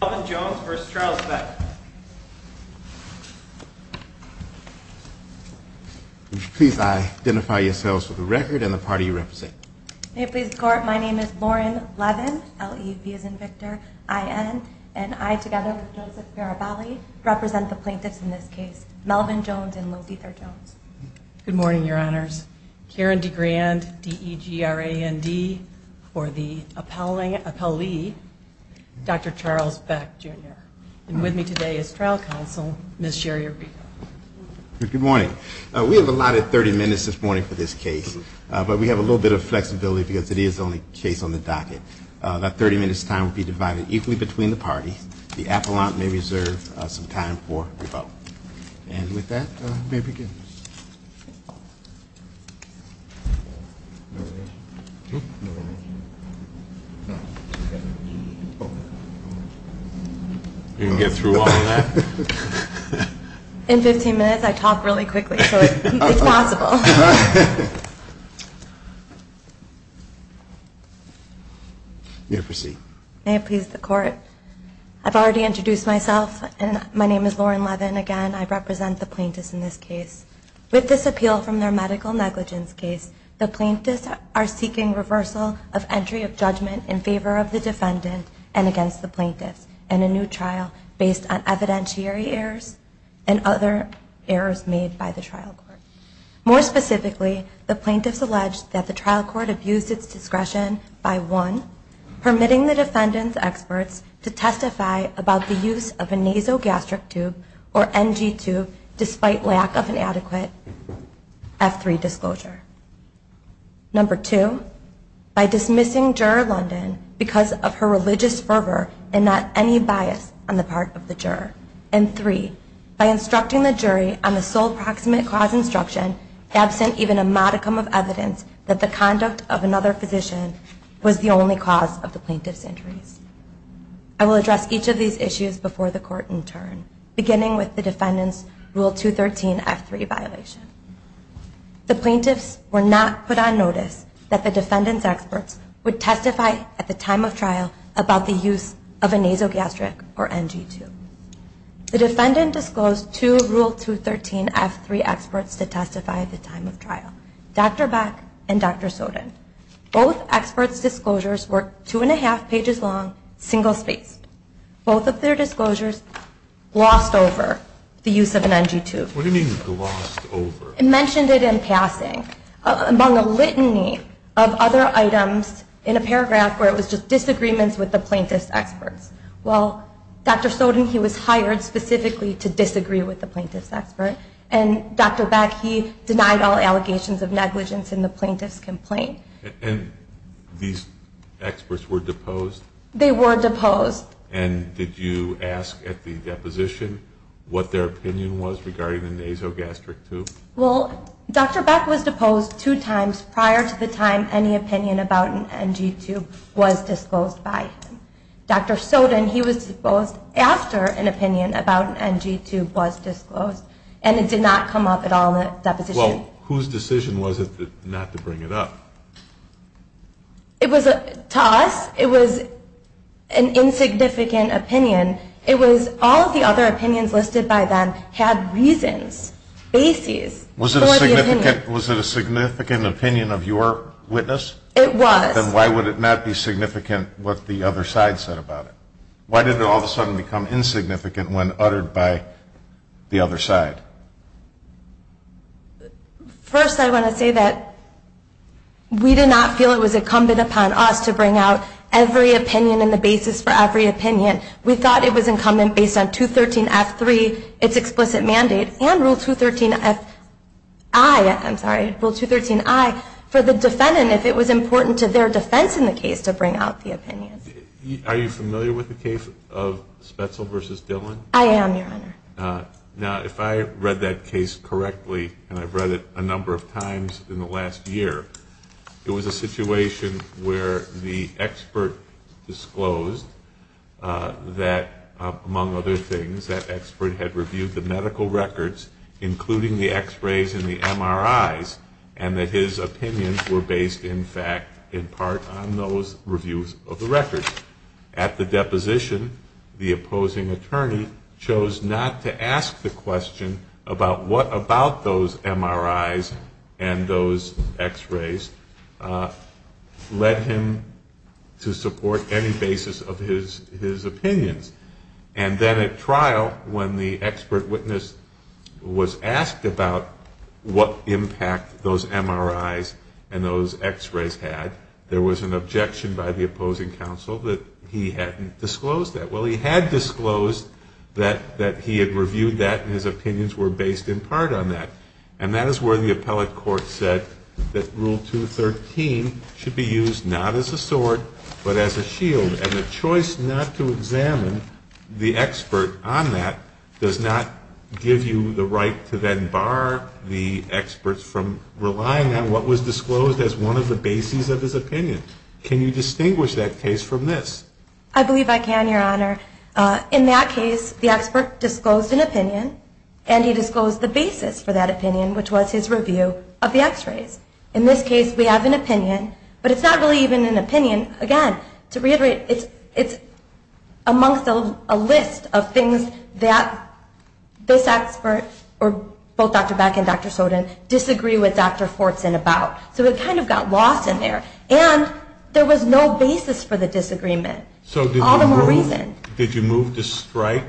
Melvin Jones v. Charles Beck. Would you please identify yourselves for the record and the party you represent? May it please the court, my name is Lauren Levin, L-E-V as in Victor, I-N, and I, together with Joseph Barabali, represent the plaintiffs in this case, Melvin Jones and Lothar Jones. Good morning, your honors. Karen DeGrand, D-E-G-R-A-N-D, for the appellee, Dr. Charles Beck, Jr. And with me today is trial counsel, Ms. Sherry Arrico. Good morning. We have allotted 30 minutes this morning for this case, but we have a little bit of flexibility because it is the only case on the docket. That 30 minutes' time will be divided equally between the parties. The appellant may reserve some time for the vote. And with that, may it begin. In 15 minutes, I talk really quickly, so it's possible. You may proceed. May it please the court, I've already introduced myself, and my name is Lauren Levin, again. I represent the plaintiffs in this case. With this appeal from their medical negligence case, the plaintiffs are seeking reversal of entry of judgment in favor of the defendant and against the plaintiffs in a new trial based on evidentiary errors and other errors made by the trial court. More specifically, the plaintiffs allege that the trial court abused its discretion by, one, permitting the defendant's experts to testify about the use of a nasogastric tube or NG tube despite lack of an adequate F3 disclosure. Number two, by dismissing Juror London because of her religious fervor and not any bias on the part of the juror. And three, by instructing the jury on the sole proximate cause instruction, absent even a modicum of evidence that the conduct of another physician was the only cause of the plaintiff's injuries. I will address each of these issues before the court in turn, beginning with the defendant's Rule 213 F3 violation. The plaintiffs were not put on notice that the defendant's experts would testify at the time of trial about the use of a nasogastric or NG tube. The defendant disclosed two Rule 213 F3 experts to testify at the time of trial, Dr. Beck and Dr. Soden. Both experts' disclosures were two-and-a-half pages long, single-spaced. Both of their disclosures glossed over the use of an NG tube. What do you mean glossed over? It mentioned it in passing among a litany of other items in a paragraph where it was just disagreements with the plaintiffs' experts. Well, Dr. Soden, he was hired specifically to disagree with the plaintiffs' expert, and Dr. Beck, he denied all allegations of negligence in the plaintiffs' complaint. And these experts were deposed? They were deposed. And did you ask at the deposition what their opinion was regarding the nasogastric tube? Well, Dr. Beck was deposed two times prior to the time any opinion about an NG tube was disclosed by him. Dr. Soden, he was deposed after an opinion about an NG tube was disclosed, and it did not come up at all in the deposition. Well, whose decision was it not to bring it up? It was to us. It was an insignificant opinion. It was all the other opinions listed by them had reasons, bases for the opinion. Was it a significant opinion of your witness? It was. Then why would it not be significant what the other side said about it? Why did it all of a sudden become insignificant when uttered by the other side? First, I want to say that we did not feel it was incumbent upon us to bring out every opinion and the basis for every opinion. We thought it was incumbent based on 213-F3, its explicit mandate, and Rule 213-I, I'm sorry, Rule 213-I, for the defendant if it was important to their defense in the case to bring out the opinion. Are you familiar with the case of Spetzel v. Dillon? I am, Your Honor. Now, if I read that case correctly, and I've read it a number of times in the last year, it was a situation where the expert disclosed that, among other things, that expert had reviewed the medical records, including the x-rays and the MRIs, and that his opinions were based, in fact, in part on those reviews of the records. At the deposition, the opposing attorney chose not to ask the question about what about those MRIs and those x-rays led him to support any basis of his opinions. And then at trial, when the expert witness was asked about what impact those MRIs and those x-rays had, there was an objection by the opposing counsel that he hadn't disclosed that. Well, he had disclosed that he had reviewed that and his opinions were based in part on that. And that is where the appellate court said that Rule 213 should be used not as a sword but as a shield, and the choice not to examine the expert on that does not give you the right to then bar the experts from relying on what was disclosed as one of the bases of his opinion. Can you distinguish that case from this? I believe I can, Your Honor. In that case, the expert disclosed an opinion, and he disclosed the basis for that opinion, which was his review of the x-rays. In this case, we have an opinion, but it's not really even an opinion. Again, to reiterate, it's amongst a list of things that this expert, or both Dr. Beck and Dr. Soden, disagree with Dr. Fortson about. So it kind of got lost in there. And there was no basis for the disagreement, all the more reason. So did you move to strike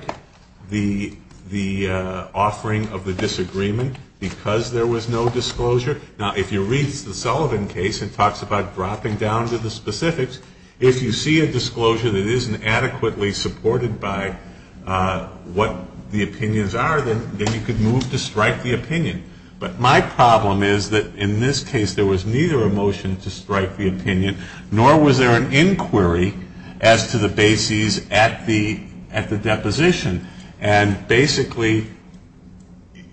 the offering of the disagreement because there was no disclosure? Now, if you read the Sullivan case, it talks about dropping down to the specifics. If you see a disclosure that isn't adequately supported by what the opinions are, then you could move to strike the opinion. But my problem is that in this case there was neither a motion to strike the opinion, nor was there an inquiry as to the bases at the deposition. And basically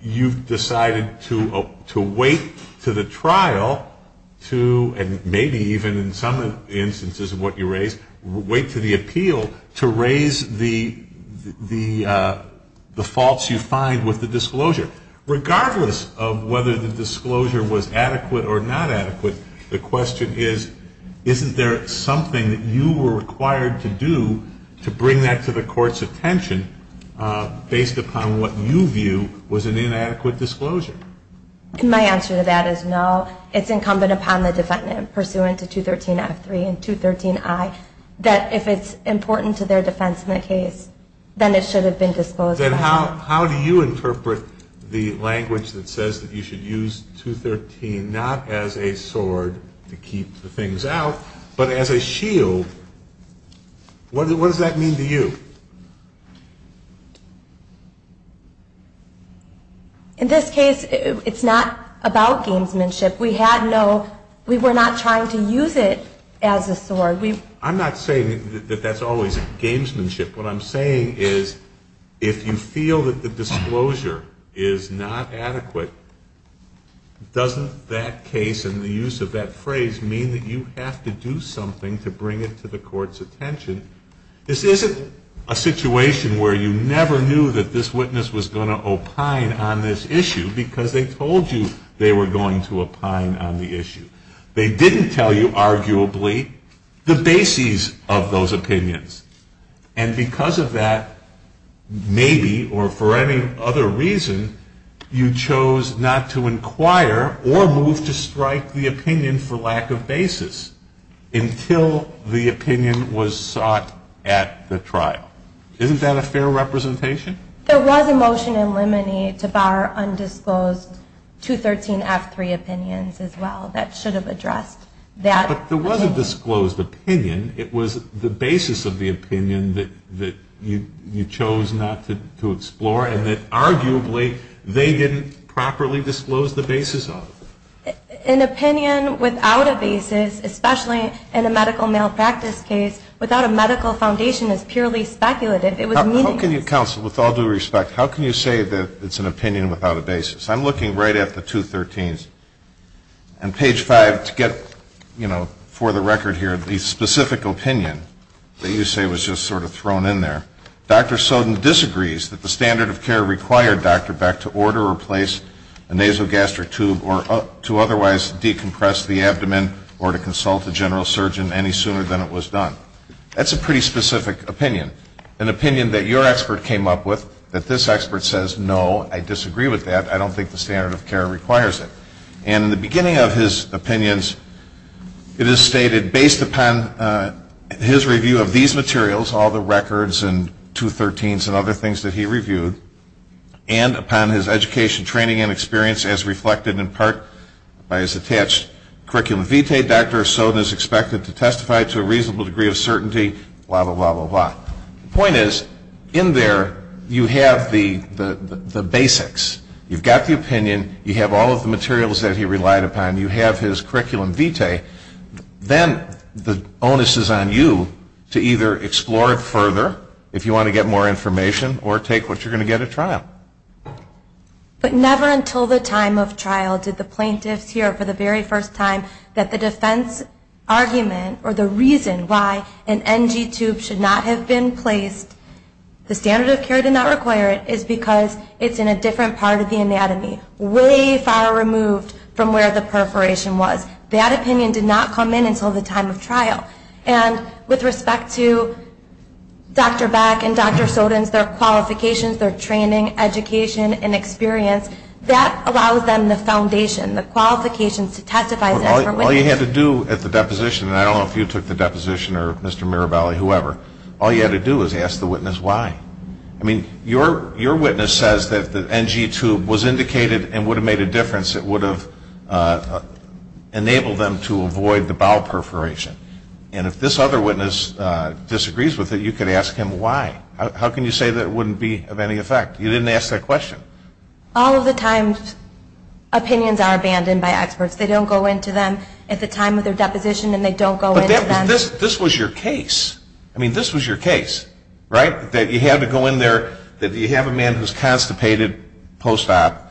you've decided to wait to the trial to, and maybe even in some instances of what you raise, wait to the appeal to raise the faults you find with the disclosure. Regardless of whether the disclosure was adequate or not adequate, the question is, isn't there something that you were required to do to bring that to the court's attention based upon what you view was an inadequate disclosure? My answer to that is no. It's incumbent upon the defendant, pursuant to 213F3 and 213I, that if it's important to their defense in the case, then it should have been disclosed. Then how do you interpret the language that says that you should use 213 not as a sword to keep the things out, but as a shield? What does that mean to you? In this case, it's not about gamesmanship. We had no, we were not trying to use it as a sword. I'm not saying that that's always gamesmanship. What I'm saying is if you feel that the disclosure is not adequate, doesn't that case and the use of that phrase mean that you have to do something to bring it to the court's attention? This isn't a situation where you never knew that this witness was going to opine on this issue because they told you they were going to opine on the issue. They didn't tell you, arguably, the bases of those opinions. And because of that, maybe, or for any other reason, you chose not to inquire or move to strike the opinion for lack of basis until the opinion was sought at the trial. Isn't that a fair representation? There was a motion in Lemony to bar undisclosed 213F3 opinions as well. That should have addressed that. But there was a disclosed opinion. It was the basis of the opinion that you chose not to explore and that arguably they didn't properly disclose the basis of. An opinion without a basis, especially in a medical malpractice case, without a medical foundation is purely speculative. It was meaningless. How can you, counsel, with all due respect, how can you say that it's an opinion without a basis? I'm looking right at the 213s. And page 5, to get, you know, for the record here, the specific opinion that you say was just sort of thrown in there, Dr. Soden disagrees that the standard of care required Dr. Beck to order or place a nasogastric tube or to otherwise decompress the abdomen or to consult the general surgeon any sooner than it was done. That's a pretty specific opinion, an opinion that your expert came up with, that this expert says, no, I disagree with that. I don't think the standard of care requires it. And in the beginning of his opinions, it is stated, based upon his review of these materials, all the records and 213s and other things that he reviewed, and upon his education, training, and experience as reflected in part by his attached curriculum vitae, Dr. Soden is expected to testify to a reasonable degree of certainty, blah, blah, blah, blah, blah. The point is, in there you have the basics. You've got the opinion. You have all of the materials that he relied upon. You have his curriculum vitae. Then the onus is on you to either explore it further, if you want to get more information, or take what you're going to get at trial. But never until the time of trial did the plaintiffs hear for the very first time that the defense argument or the reason why an NG tube should not have been placed, the standard of care did not require it, is because it's in a different part of the anatomy, way far removed from where the perforation was. That opinion did not come in until the time of trial. And with respect to Dr. Beck and Dr. Soden's, their qualifications, their training, education, and experience, that allows them the foundation, the qualifications to testify. All you had to do at the deposition, and I don't know if you took the deposition or Mr. Mirabelli, whoever, all you had to do was ask the witness why. I mean, your witness says that the NG tube was indicated and would have made a difference. It would have enabled them to avoid the bowel perforation. And if this other witness disagrees with it, you could ask him why. How can you say that it wouldn't be of any effect? You didn't ask that question. All of the time, opinions are abandoned by experts. They don't go into them at the time of their deposition, and they don't go into them. I mean, this was your case. I mean, this was your case, right, that you had to go in there, that you have a man who's constipated post-op,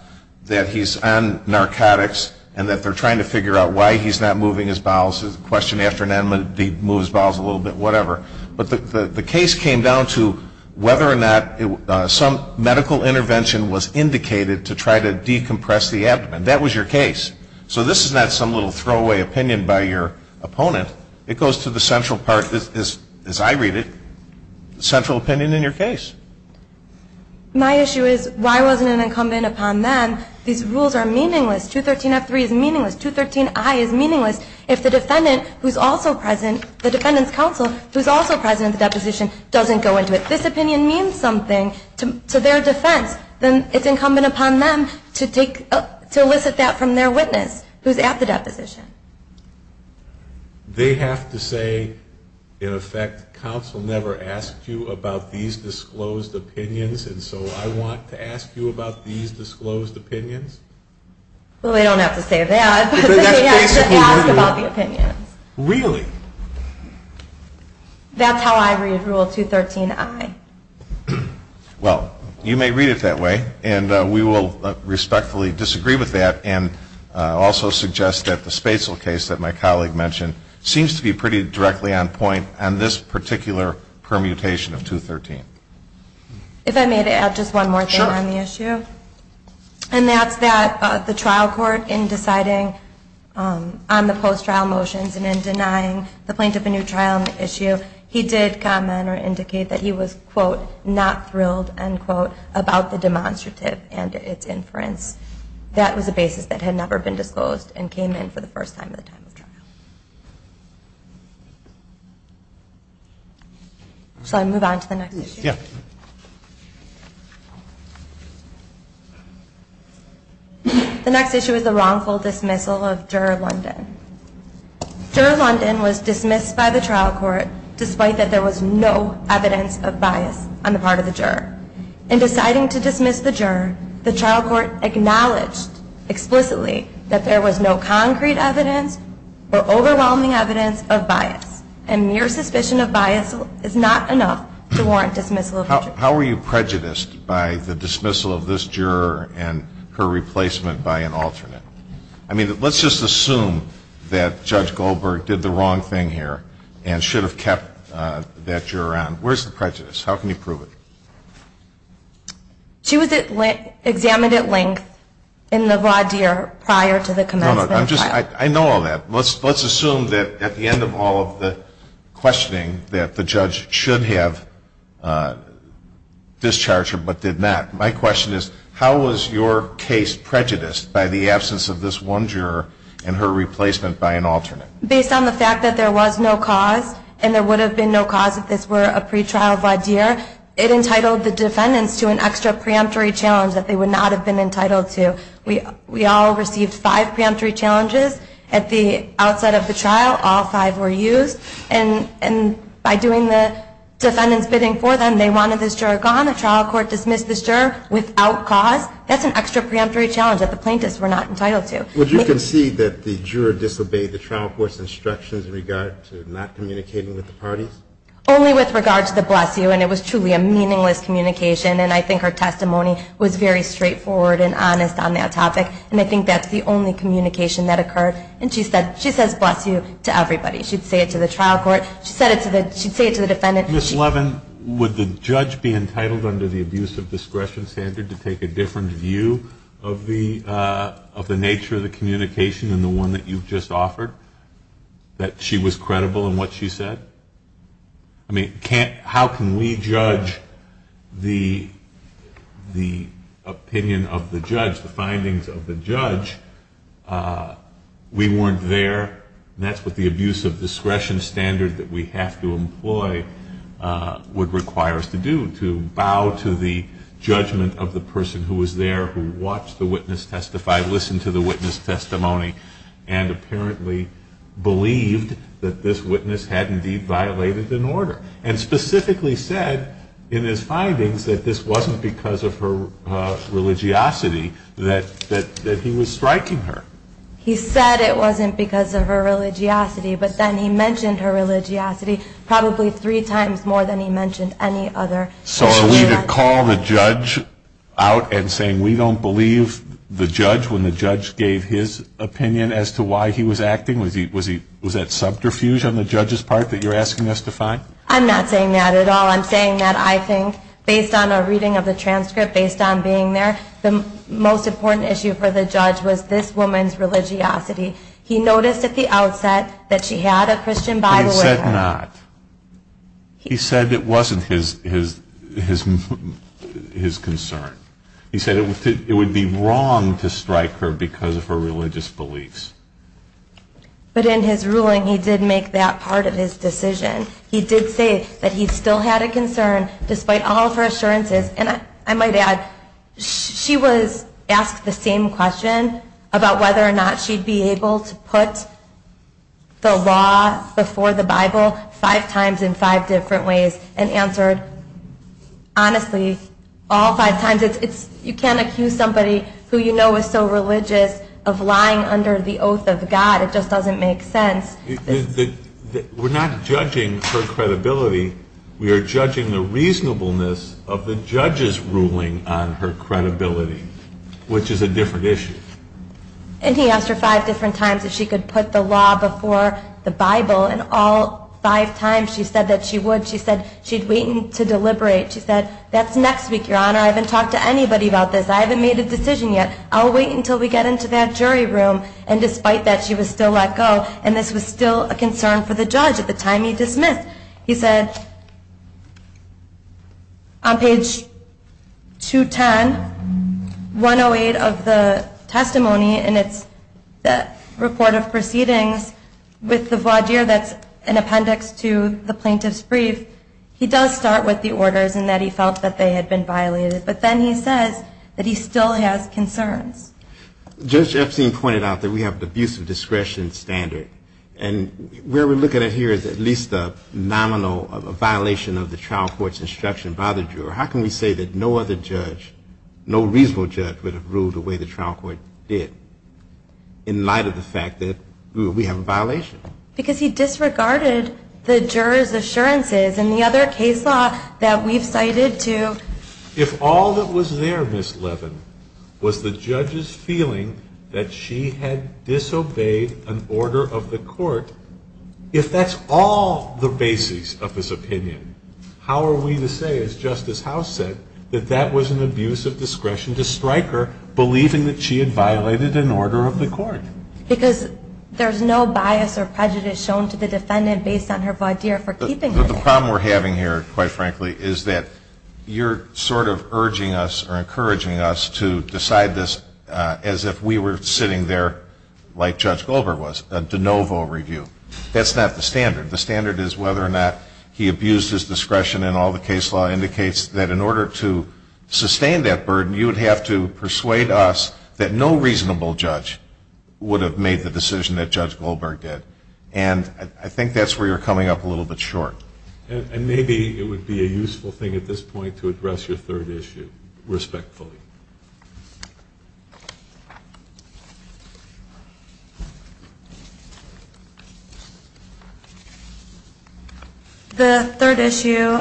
that he's on narcotics, and that they're trying to figure out why he's not moving his bowels. There's a question after an enigma, he moves his bowels a little bit, whatever. But the case came down to whether or not some medical intervention was indicated to try to decompress the abdomen. That was your case. So this is not some little throwaway opinion by your opponent. It goes to the central part, as I read it, central opinion in your case. My issue is why wasn't it incumbent upon them? These rules are meaningless. 213F3 is meaningless. 213I is meaningless. If the defendant who's also present, the defendant's counsel who's also present at the deposition doesn't go into it, this opinion means something to their defense. Then it's incumbent upon them to take up, to elicit that from their witness who's at the deposition. They have to say, in effect, counsel never asked you about these disclosed opinions, and so I want to ask you about these disclosed opinions? Well, they don't have to say that, but they have to ask about the opinions. Really? That's how I read Rule 213I. Well, you may read it that way, and we will respectfully disagree with that and also suggest that the Spatzel case that my colleague mentioned seems to be pretty directly on point on this particular permutation of 213. If I may, to add just one more thing on the issue. Sure. And that's that the trial court, in deciding on the post-trial motions and in denying the plaintiff a new trial on the issue, he did comment or indicate that he was, quote, unquote, about the demonstrative and its inference. That was a basis that had never been disclosed and came in for the first time at the time of trial. Shall I move on to the next issue? Yeah. The next issue is the wrongful dismissal of Juror London. Juror London was dismissed by the trial court despite that there was no evidence of bias on the part of the juror. In deciding to dismiss the juror, the trial court acknowledged explicitly that there was no concrete evidence or overwhelming evidence of bias, and mere suspicion of bias is not enough to warrant dismissal of the juror. How are you prejudiced by the dismissal of this juror and her replacement by an alternate? I mean, let's just assume that Judge Goldberg did the wrong thing here and should have kept that juror on. Where's the prejudice? How can you prove it? She was examined at length in the voir dire prior to the commencement of trial. No, no. I know all that. Let's assume that at the end of all of the questioning that the judge should have discharged her but did not. My question is, how was your case prejudiced by the absence of this one juror and her replacement by an alternate? Based on the fact that there was no cause, and there would have been no cause if this were a pretrial voir dire, it entitled the defendants to an extra preemptory challenge that they would not have been entitled to. We all received five preemptory challenges at the outset of the trial. All five were used. And by doing the defendant's bidding for them, they wanted this juror gone. The trial court dismissed this juror without cause. That's an extra preemptory challenge that the plaintiffs were not entitled to. Would you concede that the juror disobeyed the trial court's instructions in regard to not communicating with the parties? Only with regard to the bless you, and it was truly a meaningless communication, and I think her testimony was very straightforward and honest on that topic, and I think that's the only communication that occurred. And she says bless you to everybody. She'd say it to the trial court. She'd say it to the defendant. Ms. Levin, would the judge be entitled under the abuse of discretion standard to take a different view of the nature of the communication than the one that you've just offered, that she was credible in what she said? I mean, how can we judge the opinion of the judge, the findings of the judge? We weren't there, and that's what the abuse of discretion standard that we have to employ would require us to do, to bow to the judgment of the person who was there, who watched the witness testify, listened to the witness testimony, and apparently believed that this witness had indeed violated an order and specifically said in his findings that this wasn't because of her religiosity, that he was striking her. He said it wasn't because of her religiosity, but then he mentioned her religiosity probably three times more than he mentioned any other. So are we to call the judge out and say we don't believe the judge when the judge gave his opinion as to why he was acting? Was that subterfuge on the judge's part that you're asking us to find? I'm not saying that at all. I'm saying that I think based on a reading of the transcript, based on being there, the most important issue for the judge was this woman's religiosity. He noticed at the outset that she had a Christian Bible with her. He said not. He said it wasn't his concern. He said it would be wrong to strike her because of her religious beliefs. But in his ruling he did make that part of his decision. He did say that he still had a concern despite all of her assurances, and I might add she was asked the same question about whether or not she'd be able to put the law before the Bible five times in five different ways, and answered honestly all five times. You can't accuse somebody who you know is so religious of lying under the oath of God. It just doesn't make sense. We're not judging her credibility. We are judging the reasonableness of the judge's ruling on her credibility, which is a different issue. And he asked her five different times if she could put the law before the Bible, and all five times she said that she would. She said she'd wait to deliberate. She said, that's next week, Your Honor. I haven't talked to anybody about this. I haven't made a decision yet. I'll wait until we get into that jury room. And despite that, she was still let go, and this was still a concern for the judge at the time he dismissed. He said on page 210, 108 of the testimony, and it's the report of proceedings with the void year that's an appendix to the plaintiff's brief, he does start with the orders and that he felt that they had been violated. But then he says that he still has concerns. Judge Epstein pointed out that we have the abuse of discretion standard, and where we're looking at here is at least a nominal violation of the trial court's instruction by the juror. How can we say that no other judge, no reasonable judge, would have ruled the way the trial court did in light of the fact that we have a violation? Because he disregarded the juror's assurances and the other case law that we've cited too. If all that was there, Ms. Levin, was the judge's feeling that she had disobeyed an order of the court, if that's all the basics of his opinion, how are we to say, as Justice House said, that that was an abuse of discretion to strike her, believing that she had violated an order of the court? Because there's no bias or prejudice shown to the defendant based on her void year for keeping it. But the problem we're having here, quite frankly, is that you're sort of urging us or encouraging us to decide this as if we were sitting there like Judge Goldberg was, a de novo review. That's not the standard. The standard is whether or not he abused his discretion and all the case law indicates that in order to sustain that burden, you would have to persuade us that no reasonable judge would have made the decision that Judge Goldberg did. And I think that's where you're coming up a little bit short. And maybe it would be a useful thing at this point to address your third issue respectfully. The third issue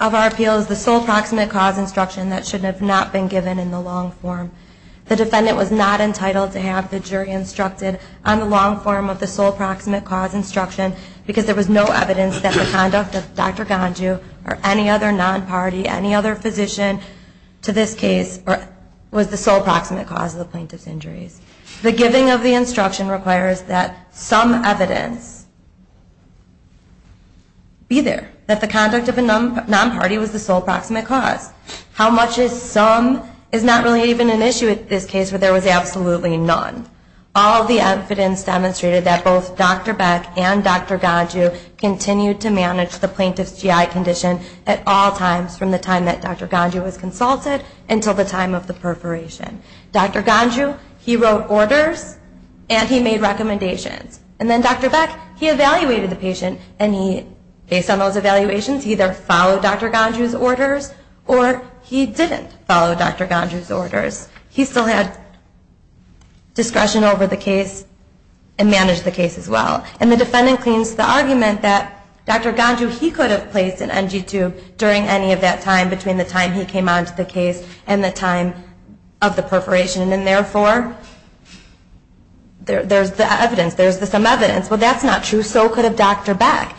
of our appeal is the sole proximate cause instruction that should have not been given in the long form. The defendant was not entitled to have the jury instructed on the long form of the sole proximate cause instruction because there was no evidence that the conduct of Dr. Ganju or any other non-party, any other physician to this case was the sole proximate cause of the plaintiff's injuries. The giving of the instruction requires that some evidence be there, that the conduct of a non-party was the sole proximate cause. How much is some is not really even an issue in this case where there was absolutely none. All the evidence demonstrated that both Dr. Beck and Dr. Ganju continued to manage the plaintiff's GI condition at all times from the time that Dr. Ganju was consulted until the time of the perforation. Dr. Ganju, he wrote orders and he made recommendations. And then Dr. Beck, he evaluated the patient and he, based on those evaluations, he either followed Dr. Ganju's orders or he didn't follow Dr. Ganju's orders. He still had discretion over the case and managed the case as well. And the defendant claims the argument that Dr. Ganju, he could have placed an NG tube during any of that time, between the time he came on to the case and the time of the perforation. And therefore, there's the evidence, there's the some evidence. Well, that's not true. So could have Dr. Beck.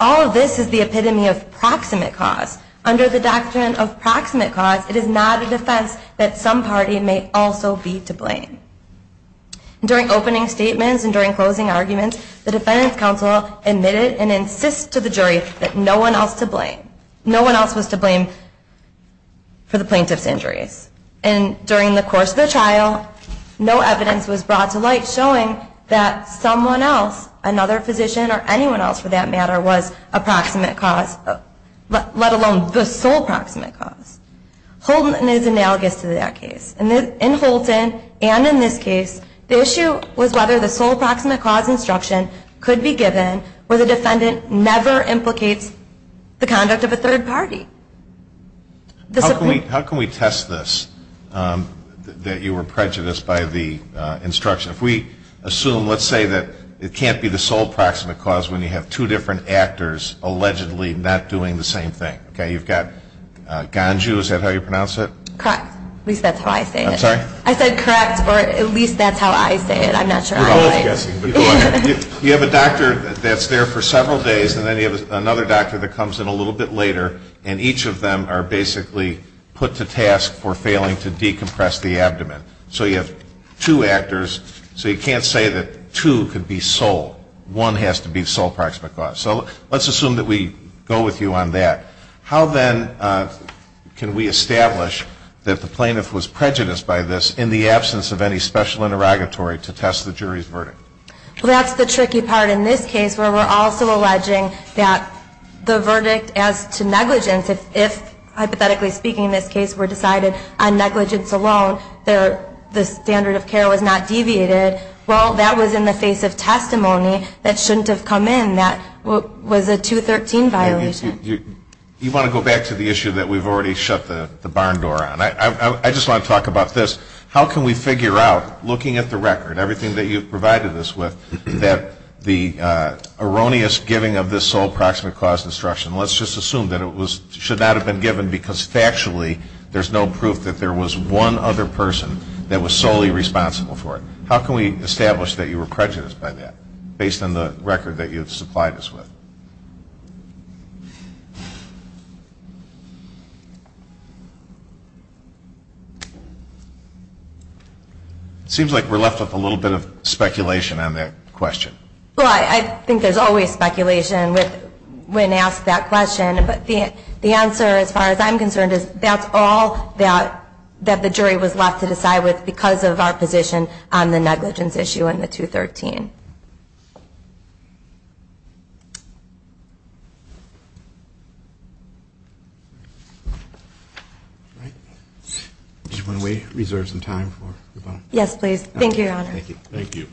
All of this is the epitome of proximate cause. Under the doctrine of proximate cause, it is not a defense that some party may also be to blame. During opening statements and during closing arguments, the defense counsel admitted and insists to the jury that no one else to blame. No one else was to blame for the plaintiff's injuries. And during the course of the trial, no evidence was brought to light showing that someone else, another physician or anyone else for that matter, was a proximate cause, let alone the sole proximate cause. Houlton is analogous to that case. In Houlton and in this case, the issue was whether the sole proximate cause instruction could be given where the defendant never implicates the conduct of a third party. How can we test this, that you were prejudiced by the instruction? If we assume, let's say that it can't be the sole proximate cause when you have two different actors allegedly not doing the same thing. You've got Ganju, is that how you pronounce it? Correct. At least that's how I say it. I'm sorry? I said correct, or at least that's how I say it. I'm not sure how I write. You have a doctor that's there for several days and then you have another doctor that comes in a little bit later, and each of them are basically put to task for failing to decompress the abdomen. So you have two actors, so you can't say that two could be sole. One has to be sole proximate cause. So let's assume that we go with you on that. How then can we establish that the plaintiff was prejudiced by this in the absence of any special interrogatory to test the jury's verdict? Well, that's the tricky part in this case where we're also alleging that the verdict as to negligence, if hypothetically speaking this case were decided on negligence alone, the standard of care was not deviated. Well, that was in the face of testimony that shouldn't have come in. That was a 213 violation. You want to go back to the issue that we've already shut the barn door on. I just want to talk about this. How can we figure out, looking at the record, everything that you've provided us with, that the erroneous giving of this sole proximate cause destruction, let's just assume that it should not have been given because factually there's no proof that there was one other person that was solely responsible for it. How can we establish that you were prejudiced by that based on the record that you've supplied us with? It seems like we're left with a little bit of speculation on that question. Well, I think there's always speculation when asked that question, but the answer as far as I'm concerned is that's all that the jury was left to decide with because of our position on the negligence issue in the 213. All right. Do you want to reserve some time for the bond? Yes, please. Thank you, Your Honor. Thank you. Thank you.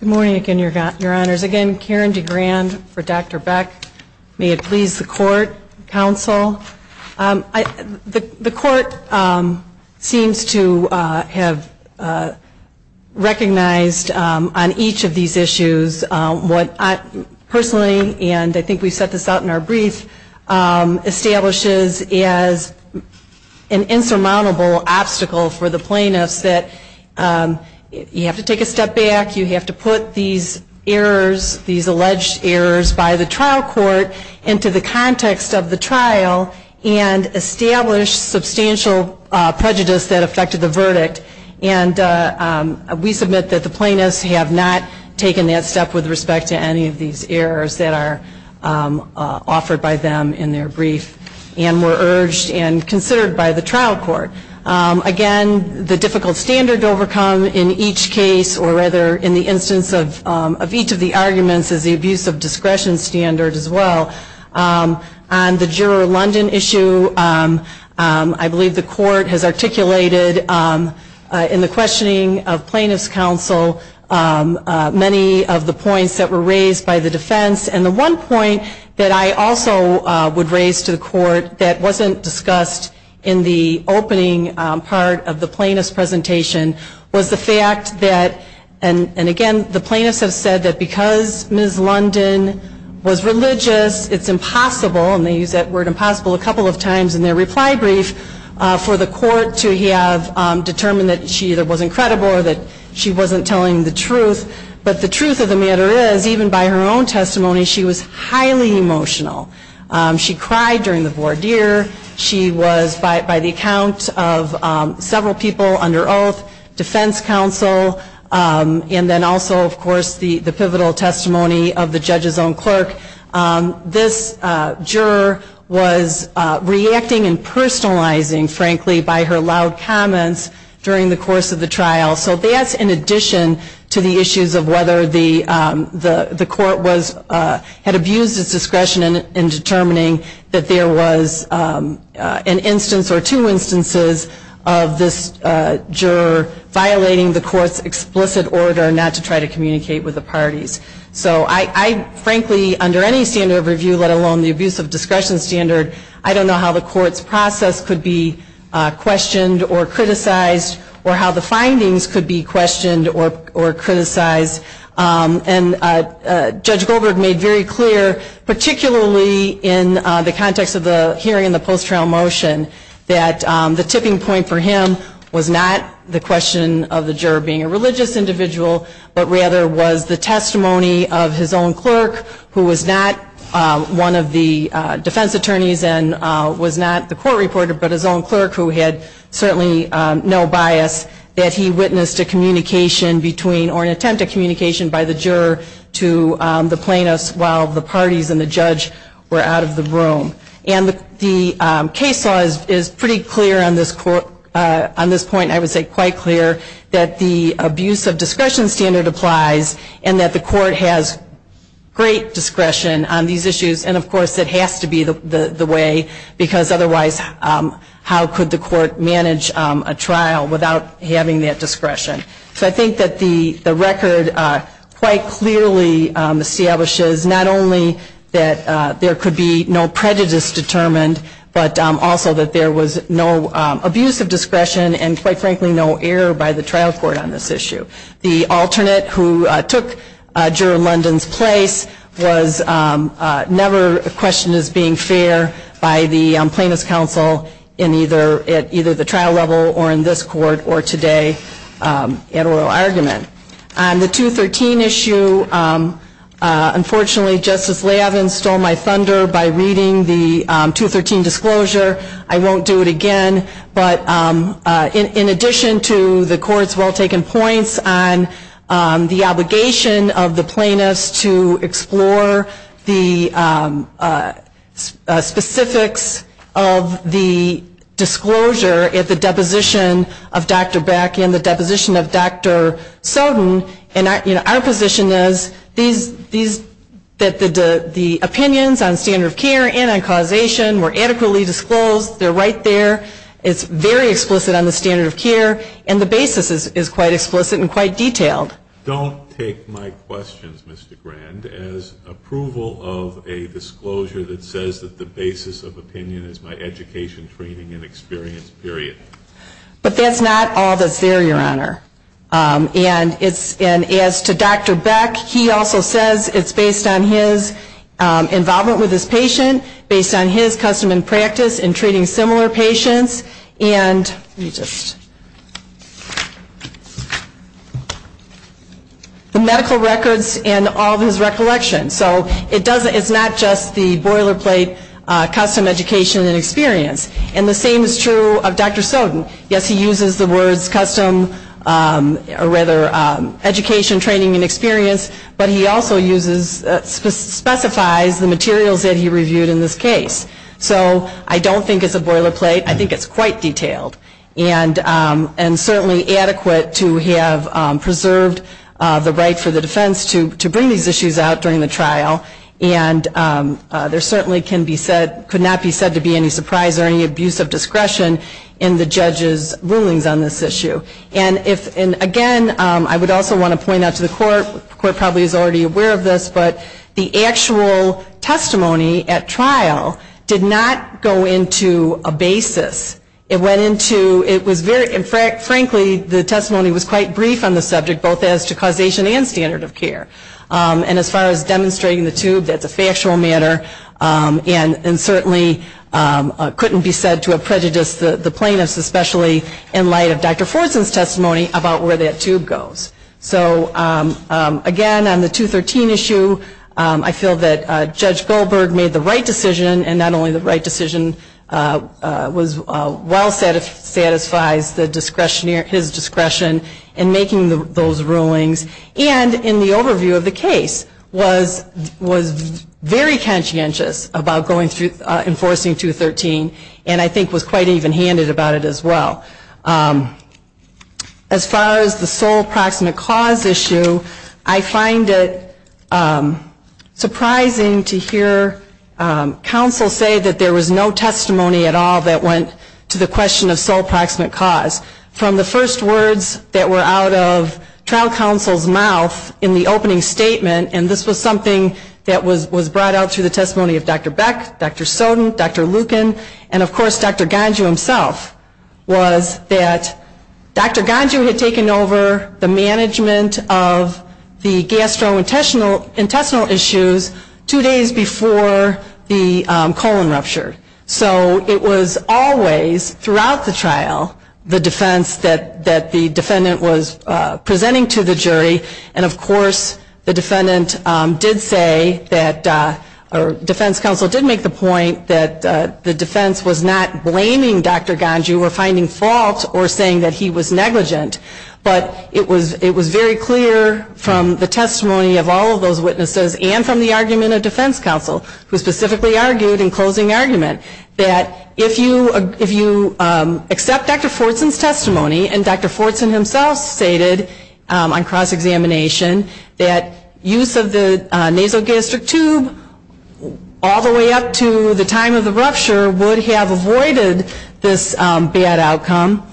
Good morning again, Your Honors. Again, Karen DeGrand for Dr. Beck. May it please the Court, Counsel. have recognized on each of these issues what I personally, and I think we set this out in our brief, establishes as an insurmountable obstacle for the plaintiffs that you have to take a step back, you have to put these errors, these alleged errors by the trial court into the context of the trial and establish substantial prejudice that affected the verdict. And we submit that the plaintiffs have not taken that step with respect to any of these errors that are offered by them in their brief and were urged and considered by the trial court. Again, the difficult standard to overcome in each case, or rather in the instance of each of the arguments is the abuse of discretion standard as well. On the Juror London issue, I believe the Court has articulated in the questioning of Plaintiffs' Counsel many of the points that were raised by the defense. And the one point that I also would raise to the Court that wasn't discussed in the opening part of the plaintiffs' presentation was the fact that, and again, the plaintiffs have said that because Ms. London was it's impossible, and they use that word impossible a couple of times in their reply brief, for the Court to have determined that she either wasn't credible or that she wasn't telling the truth. But the truth of the matter is, even by her own testimony, she was highly emotional. She cried during the voir dire. She was, by the account of several people under oath, defense counsel, and then also, of course, the pivotal testimony of the judge's own clerk. This juror was reacting and personalizing, frankly, by her loud comments during the course of the trial. So that's in addition to the issues of whether the Court had abused its discretion in determining that there was an instance or two instances of this juror violating the Court's explicit order not to try to communicate with the parties. So I, frankly, under any standard of review, let alone the abuse of discretion standard, I don't know how the Court's process could be questioned or criticized or how the findings could be questioned or criticized. And Judge Goldberg made very clear, particularly in the context of the hearing in the post-trial motion, that the tipping point for him was not the question of the juror being a religious individual, but rather was the testimony of his own clerk, who was not one of the defense attorneys and was not the court reporter, but his own clerk, who had certainly no bias, that he witnessed a communication between, or an attempt at communication by the juror to the plaintiffs while the parties and the judge were out of the room. And the case law is pretty clear on this point, I would say quite clear, that the abuse of discretion standard applies and that the Court has great discretion on these issues. And, of course, it has to be the way, because otherwise how could the Court manage a trial without having that discretion? So I think that the record quite clearly establishes not only that there could be no prejudice determined, but also that there was no abuse of discretion and, quite frankly, no error by the trial court on this issue. The alternate who took Juror London's place was never questioned as being fair by the Plaintiffs' Counsel at either the trial level or in this court or today at oral argument. On the 213 issue, unfortunately Justice Lavin stole my thunder by reading the 213 disclosure. I won't do it again, but in addition to the Court's well-taken points on the obligation of the Plaintiffs to explore the specifics of the disclosure at the deposition of Dr. Beck and the deposition of Dr. Soden, our position is that the opinions on standard of care and on causation were adequately disclosed. They're right there. It's very explicit on the standard of care, and the basis is quite explicit and quite detailed. Don't take my questions, Mr. Grand, as approval of a disclosure that says that the basis of opinion is my education, training, and experience, period. But that's not all that's there, Your Honor. And as to Dr. Beck, he also says it's based on his involvement with his patient, based on his custom and practice in treating similar patients and the medical records and all of his recollections. So it's not just the boilerplate custom, education, and experience. And the same is true of Dr. Soden. Yes, he uses the words custom, or rather education, training, and experience, but he also specifies the materials that he reviewed in this case. So I don't think it's a boilerplate. I think it's quite detailed. And certainly adequate to have preserved the right for the defense to bring these issues out during the trial. And there certainly could not be said to be any surprise or any abuse of discretion in the judge's rulings on this issue. And again, I would also want to point out to the court, the court probably is already aware of this, but the actual testimony at trial did not go into a basis. It went into, it was very, frankly, the testimony was quite brief on the subject, both as to causation and standard of care. And as far as demonstrating the tube, that's a factual matter. And certainly couldn't be said to have prejudiced the plaintiffs, especially in light of Dr. Forson's testimony about where that tube goes. So again, on the 213 issue, I feel that Judge Goldberg made the right decision, and not only the right decision, well satisfies the discretionary, his discretion in making those rulings, and in the overview of the case was very conscientious about going through, enforcing 213, and I think was quite even-handed about it as well. As far as the sole proximate cause issue, I find it surprising to hear counsel say that there was no testimony at all that went to the question of sole proximate cause. From the first words that were out of trial counsel's mouth in the opening statement, and this was something that was brought out through the testimony of Dr. Beck, Dr. Soden, Dr. Lucan, and of course Dr. Ganju himself, was that Dr. Ganju had taken over the management of the gastrointestinal issues two days before the colon rupture. So it was always, throughout the trial, the defense that the defendant was presenting to the jury, and of course the defendant did say that, or defense counsel did make the point that the defense was not blaming Dr. Ganju for finding fault or saying that he was negligent. But it was very clear from the testimony of all of those witnesses and from the argument of defense counsel, who specifically argued in closing argument, that if you accept Dr. Fortson's testimony, and Dr. Fortson himself stated on cross-examination that use of the nasogastric tube all the way up to the time of the rupture would have avoided this bad outcome.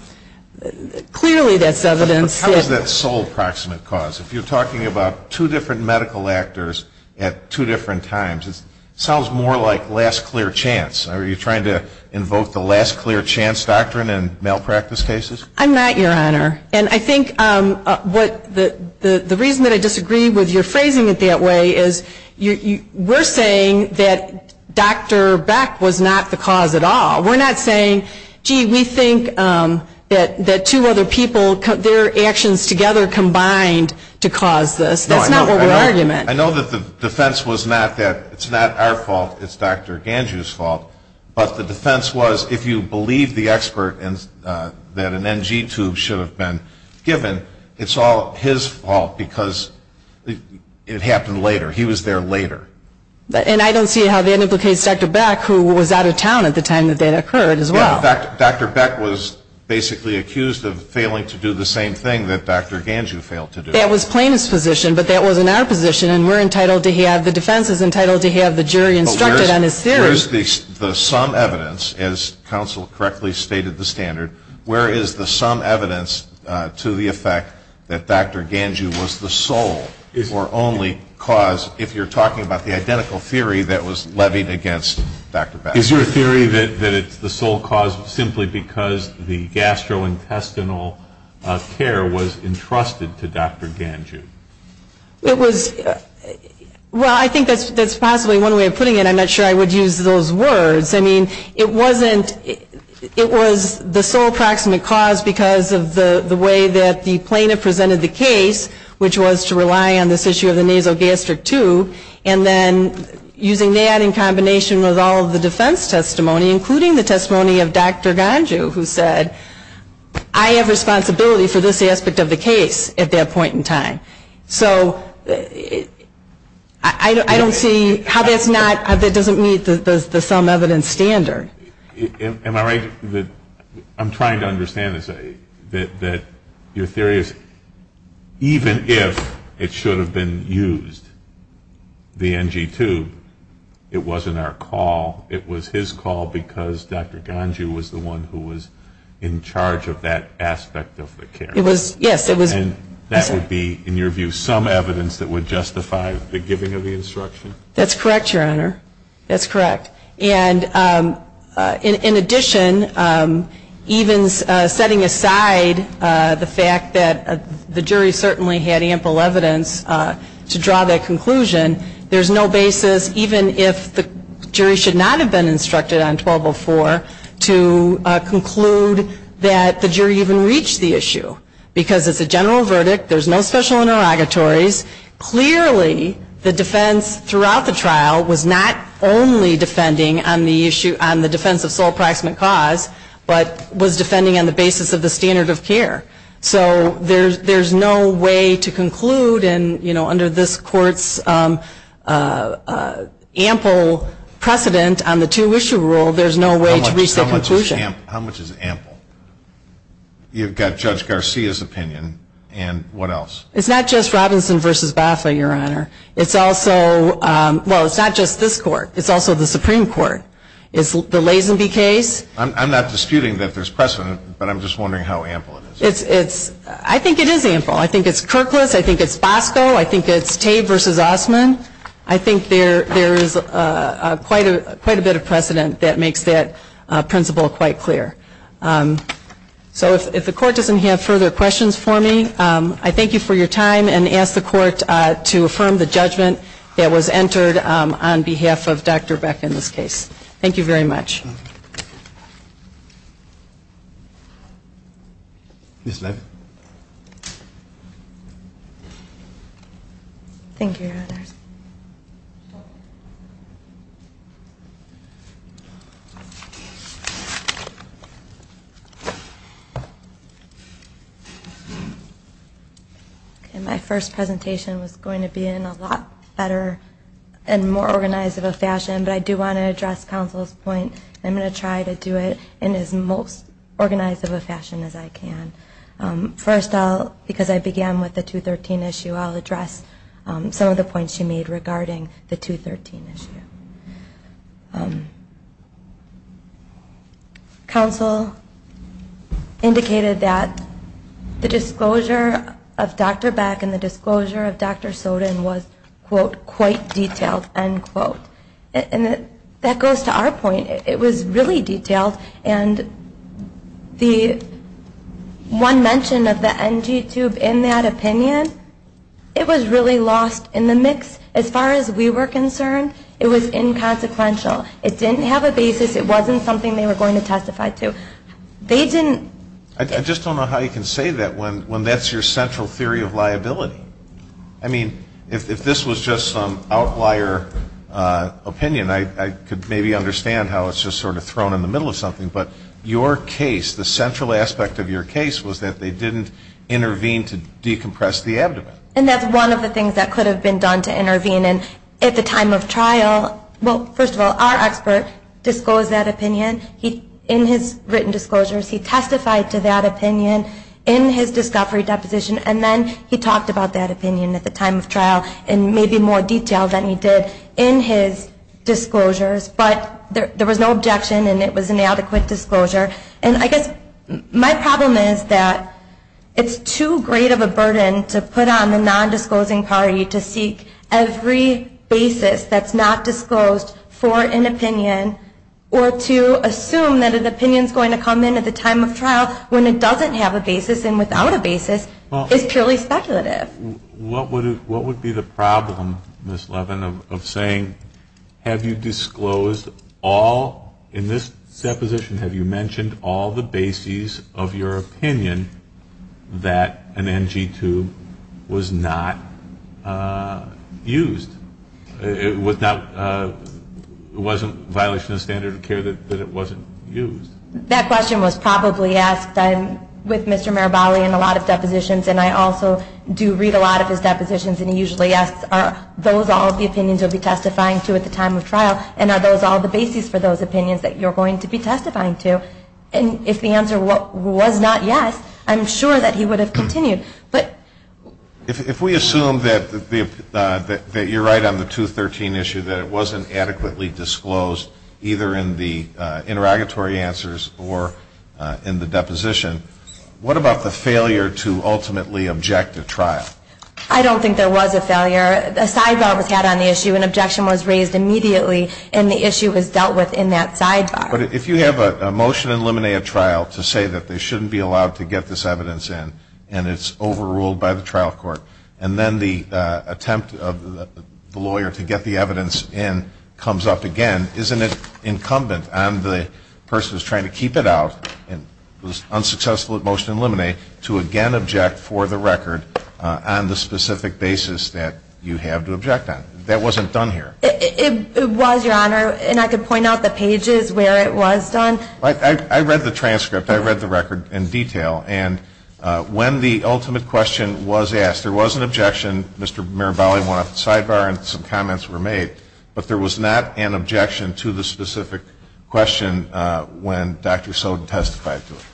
Clearly that's evidence that... But how is that sole proximate cause? If you're talking about two different medical actors at two different times, it sounds more like last clear chance. Are you trying to invoke the last clear chance doctrine in malpractice cases? I'm not, Your Honor. And I think the reason that I disagree with your phrasing it that way is we're saying that Dr. Beck was not the cause at all. We're not saying, gee, we think that two other people, their actions together combined to cause this. That's not what we're arguing. I know that the defense was not that it's not our fault, it's Dr. Ganju's fault, but the defense was if you believe the expert that an NG tube should have been given, it's all his fault because it happened later. He was there later. And I don't see how that implicates Dr. Beck, who was out of town at the time that that occurred as well. Dr. Beck was basically accused of failing to do the same thing that Dr. Ganju failed to do. That was Plano's position, but that wasn't our position, and we're entitled to have, the defense is entitled to have the jury instructed on his theory. Where is the sum evidence, as counsel correctly stated the standard, where is the sum evidence to the effect that Dr. Ganju was the sole or only cause, if you're talking about the identical theory that was levied against Dr. Beck? Is your theory that it's the sole cause simply because the gastrointestinal care was entrusted to Dr. Ganju? It was, well, I think that's possibly one way of putting it. I'm not sure I would use those words. I mean, it wasn't, it was the sole proximate cause because of the way that the plaintiff presented the case, which was to rely on this issue of the nasogastric tube, and then using that in combination with all of the defense testimony, including the testimony of Dr. Ganju, who said, I have responsibility for this aspect of the case at that point in time. So I don't see how that's not, that doesn't meet the sum evidence standard. Am I right that, I'm trying to understand this, that your theory is, even if it should have been used, the NG tube, it wasn't our call, it was his call because Dr. Ganju was the one who was in charge of that aspect of the care. It was, yes, it was. And that would be, in your view, some evidence that would justify the giving of the instruction? That's correct, Your Honor, that's correct. And in addition, even setting aside the fact that the jury certainly had ample evidence to draw that conclusion, there's no basis, even if the jury should not have been instructed on 1204, to conclude that the jury even reached the issue because it's a general verdict, there's no special interrogatories. Clearly, the defense throughout the trial was not only defending on the issue, on the defense of sole proximate cause, but was defending on the basis of the standard of care. So there's no way to conclude, and under this court's ample precedent on the two-issue rule, there's no way to reach the conclusion. How much is ample? You've got Judge Garcia's opinion, and what else? It's not just Robinson v. Boffa, Your Honor. It's also, well, it's not just this court. It's also the Supreme Court. It's the Lazenby case. I'm not disputing that there's precedent, but I'm just wondering how ample it is. I think it is ample. I think it's Kirklis. I think it's Bosco. I think it's Tabe v. Osmond. I think there is quite a bit of precedent that makes that principle quite clear. So if the court doesn't have further questions for me, I thank you for your time and ask the court to affirm the judgment that was entered on behalf of Dr. Beck in this case. Thank you very much. Ms. Levin. Thank you. Thank you, Your Honors. My first presentation was going to be in a lot better and more organized of a fashion, but I do want to address counsel's point. I'm going to try to do it in as most organized of a fashion as I can. First, because I began with the 213 issue, I'll address some of the points you made regarding the 213 issue. Counsel indicated that the disclosure of Dr. Beck and the disclosure of Dr. Soden was, quote, quite detailed, end quote. And that goes to our point. It was really detailed, and the one mention of the NG tube in that opinion, it was really lost in the mix. As far as we were concerned, it was inconsequential. It didn't have a basis. It wasn't something they were going to testify to. I just don't know how you can say that when that's your central theory of liability. I mean, if this was just some outlier opinion, I could maybe understand how it's just sort of thrown in the middle of something. But your case, the central aspect of your case, was that they didn't intervene to decompress the abdomen. And that's one of the things that could have been done to intervene. And at the time of trial, well, first of all, our expert disclosed that opinion. In his written disclosures, he testified to that opinion in his discovery deposition, and then he talked about that opinion at the time of trial in maybe more detail than he did in his disclosures. But there was no objection, and it was an adequate disclosure. And I guess my problem is that it's too great of a burden to put on the nondisclosing party to seek every basis that's not disclosed for an opinion or to assume that an opinion is going to come in at the time of trial when it doesn't have a basis and without a basis is purely speculative. What would be the problem, Ms. Levin, of saying, have you disclosed all in this deposition, have you mentioned all the bases of your opinion that an NG tube was not used? It wasn't a violation of the standard of care that it wasn't used? That question was probably asked. I'm with Mr. Marabali in a lot of depositions, and I also do read a lot of his depositions, and he usually asks, are those all the opinions you'll be testifying to at the time of trial, and are those all the bases for those opinions that you're going to be testifying to? And if the answer was not yes, I'm sure that he would have continued. If we assume that you're right on the 213 issue, that it wasn't adequately disclosed either in the interrogatory answers or in the deposition, what about the failure to ultimately object to trial? I don't think there was a failure. A sidebar was had on the issue, an objection was raised immediately, and the issue was dealt with in that sidebar. But if you have a motion in limine a trial to say that they shouldn't be allowed to get this evidence in and it's overruled by the trial court, and then the attempt of the lawyer to get the evidence in comes up again, isn't it incumbent on the person who's trying to keep it out and was unsuccessful at motion in limine a to again object for the record on the specific basis that you have to object on? That wasn't done here. It was, Your Honor, and I could point out the pages where it was done. I read the transcript. I read the record in detail. And when the ultimate question was asked, there was an objection. Mr. Mirabelli went up to the sidebar and some comments were made. But there was not an objection to the specific question when Dr. Soden testified to it.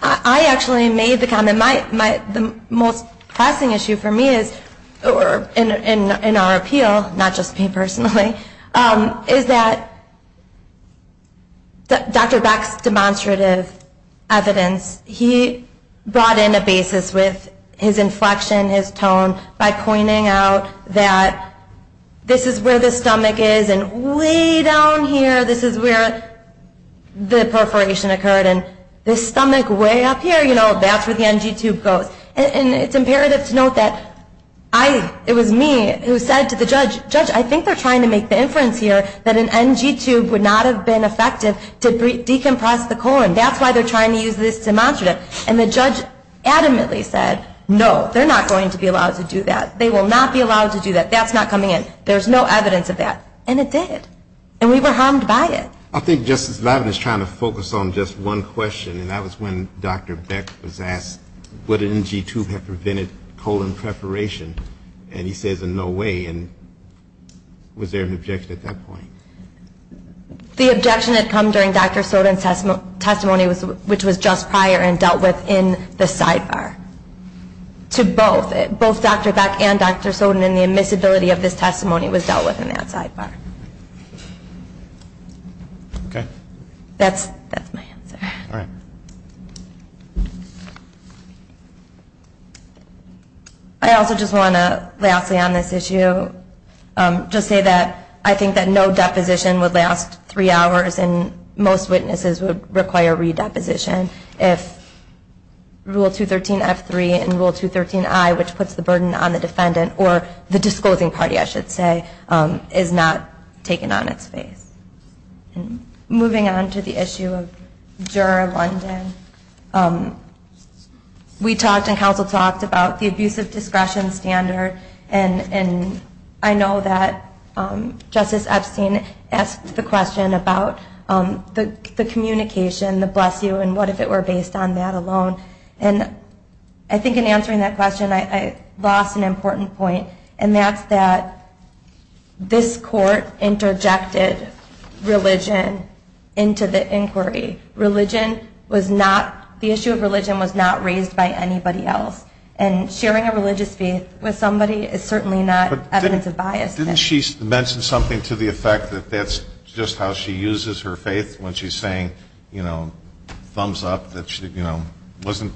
I actually made the comment. The most pressing issue for me is, or in our appeal, not just me personally, is that Dr. Beck's demonstrative evidence, he brought in a basis with his inflection, his tone, by pointing out that this is where the stomach is and way down here, this is where the perforation occurred, and this stomach way up here, that's where the NG tube goes. And it's imperative to note that it was me who said to the judge, I think they're trying to make the inference here that an NG tube would not have been effective to decompress the colon. That's why they're trying to use this demonstrative. And the judge adamantly said, no, they're not going to be allowed to do that. They will not be allowed to do that. That's not coming in. There's no evidence of that. And it did. And we were harmed by it. I think Justice Levin is trying to focus on just one question, and that was when Dr. Beck was asked would an NG tube have prevented colon perforation. And he says, in no way. And was there an objection at that point? The objection had come during Dr. Soden's testimony, which was just prior and dealt with in the sidebar. To both, both Dr. Beck and Dr. Soden, and the admissibility of this testimony was dealt with in that sidebar. Okay. That's my answer. All right. Thank you. I also just want to, lastly on this issue, just say that I think that no deposition would last three hours, and most witnesses would require redeposition if Rule 213F3 and Rule 213I, which puts the burden on the defendant, or the disclosing party, I should say, is not taken on its face. Moving on to the issue of Juror London, we talked and counsel talked about the abusive discretion standard, and I know that Justice Epstein asked the question about the communication, the bless you, and what if it were based on that alone. And I think in answering that question, I lost an important point, and that's that this court interjected religion into the inquiry. Religion was not, the issue of religion was not raised by anybody else, and sharing a religious faith with somebody is certainly not evidence of bias. Didn't she mention something to the effect that that's just how she uses her faith, when she's saying, you know, thumbs up, that she, you know, wasn't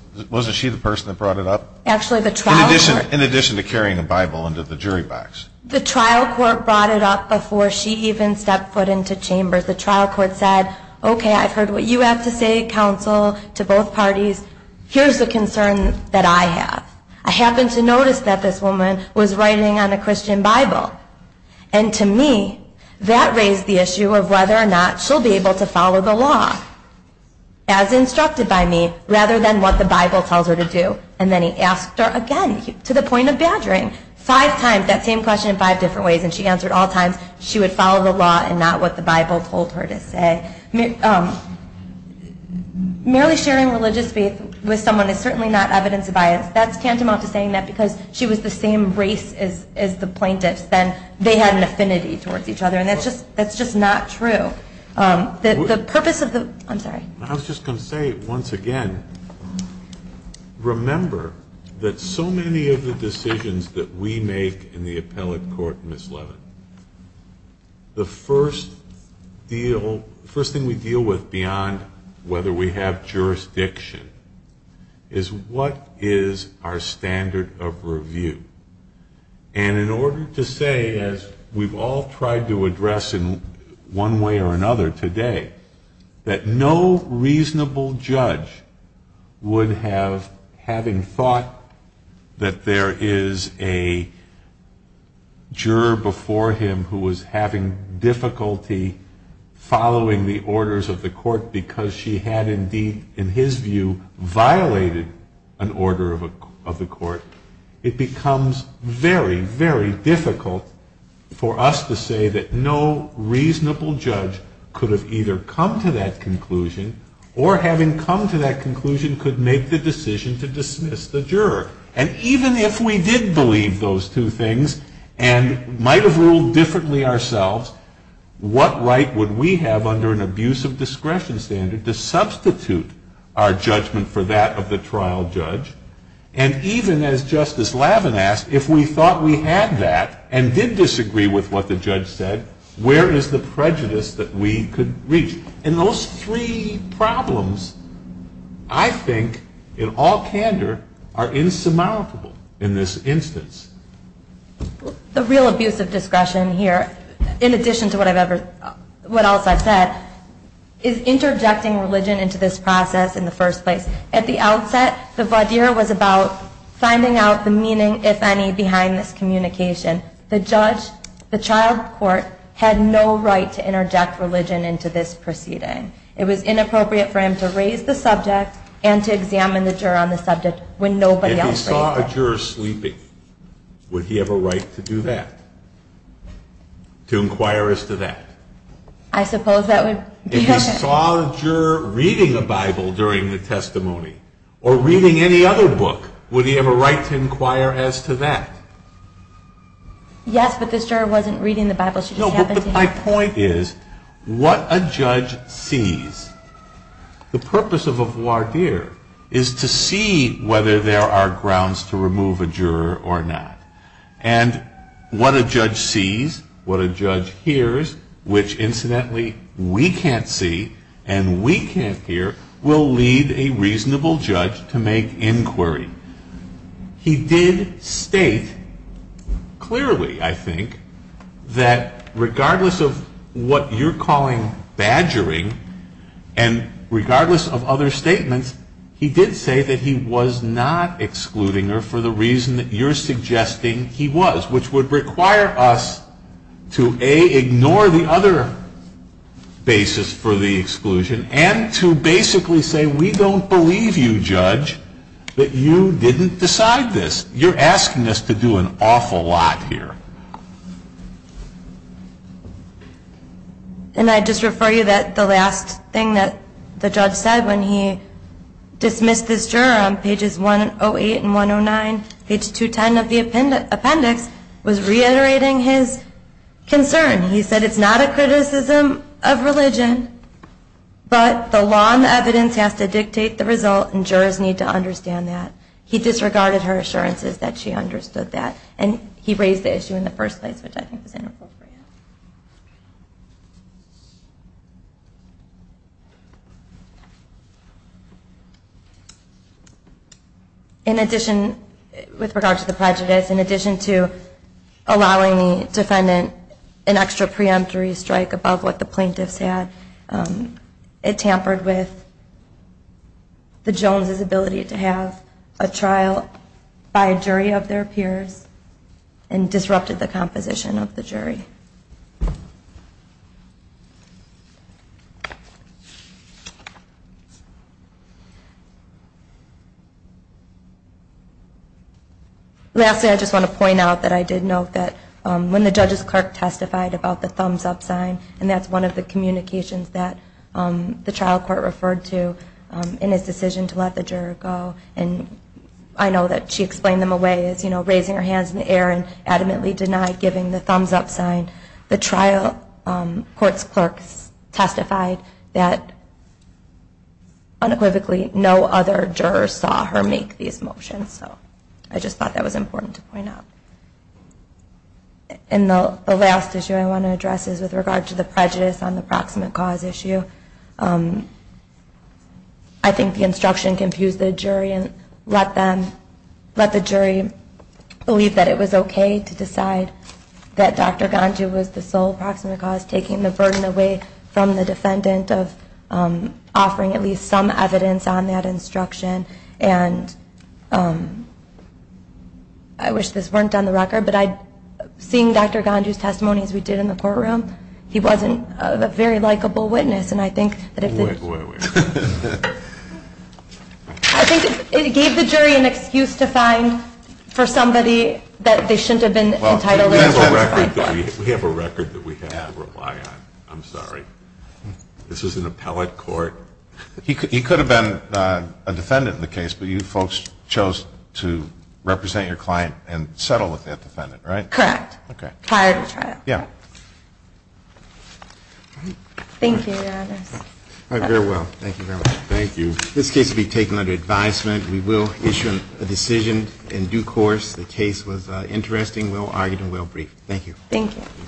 she the person that brought it up? In addition to carrying a Bible into the jury box. The trial court brought it up before she even stepped foot into chambers. The trial court said, okay, I've heard what you have to say, counsel, to both parties. Here's the concern that I have. I happen to notice that this woman was writing on a Christian Bible, and to me, that raised the issue of whether or not she'll be able to follow the law, as instructed by me, rather than what the Bible tells her to do. And then he asked her again, to the point of badgering, five times that same question in five different ways, and she answered all times she would follow the law and not what the Bible told her to say. Merely sharing religious faith with someone is certainly not evidence of bias. That's tantamount to saying that because she was the same race as the plaintiffs, then they had an affinity towards each other, and that's just not true. The purpose of the, I'm sorry. I was just going to say, once again, remember that so many of the decisions that we make in the appellate court, Ms. Levin, the first deal, first thing we deal with beyond whether we have jurisdiction, is what is our standard of review? And in order to say, as we've all tried to address in one way or another today, that no reasonable judge would have, having thought that there is a juror before him who was having difficulty following the orders of the court because she had indeed, in his view, violated an order of the court, it becomes very, very difficult for us to say that no reasonable judge could have either come to that conclusion or, having come to that conclusion, could make the decision to dismiss the juror. And even if we did believe those two things and might have ruled differently ourselves, what right would we have under an abuse of discretion standard to substitute our judgment for that of the trial judge? And even as Justice Levin asked, if we thought we had that and did disagree with what the judge said, where is the prejudice that we could reach? And those three problems, I think, in all candor, are insurmountable in this instance. The real abuse of discretion here, in addition to what else I've said, is interjecting religion into this process in the first place. At the outset, the voir dire was about finding out the meaning, if any, behind this communication. The judge, the trial court, had no right to interject religion into this proceeding. It was inappropriate for him to raise the subject and to examine the juror on the subject when nobody else raised it. If he saw a juror sleeping, would he have a right to do that, to inquire as to that? I suppose that would be a... Or reading any other book, would he have a right to inquire as to that? Yes, but this juror wasn't reading the Bible. No, but my point is, what a judge sees, the purpose of a voir dire is to see whether there are grounds to remove a juror or not. And what a judge sees, what a judge hears, which, incidentally, we can't see and we can't hear, will lead a reasonable judge to make inquiry. He did state clearly, I think, that regardless of what you're calling badgering and regardless of other statements, he did say that he was not excluding her for the reason that you're suggesting he was, which would require us to, A, ignore the other basis for the exclusion and to basically say, we don't believe you, judge, that you didn't decide this. You're asking us to do an awful lot here. And I just refer you that the last thing that the judge said when he dismissed this juror on pages 108 and 109, page 210 of the appendix, was reiterating his concern. He said, it's not a criticism of religion, but the law and the evidence has to dictate the result and jurors need to understand that. He disregarded her assurances that she understood that. And he raised the issue in the first place, which I think was inappropriate. In addition, with regard to the prejudice, in addition to allowing the defendant an extra preemptory strike above what the plaintiffs had, it tampered with the Jones' ability to have a trial by a jury of their peers and disrupted the composition of the jury. Thank you. Lastly, I just want to point out that I did note that when the judge's clerk testified about the thumbs-up sign, and that's one of the communications that the trial court referred to in his decision to let the juror go. And I know that she explained them away as raising her hands in the air and adamantly denied giving the thumbs-up sign. The trial court's clerk testified that unequivocally no other juror saw her make these motions. So I just thought that was important to point out. And the last issue I want to address is with regard to the prejudice on the proximate cause issue. I think the instruction confused the jury and let the jury believe that it was okay to decide that Dr. Ganju was the sole proximate cause, taking the burden away from the defendant of offering at least some evidence on that instruction. And I wish this weren't on the record, but seeing Dr. Ganju's testimony as we did in the courtroom, he wasn't a very likable witness. And I think that if the jury an excuse to find for somebody that they shouldn't have been entitled to testify. We have a record that we have to rely on. I'm sorry. This was an appellate court. He could have been a defendant in the case, but you folks chose to represent your client and settle with that defendant, right? Correct. Prior to trial. Yeah. Thank you. Very well. Thank you very much. Thank you. This case will be taken under advisement. We will issue a decision in due course. The case was interesting, well-argued, and well-briefed. Thank you. Thank you.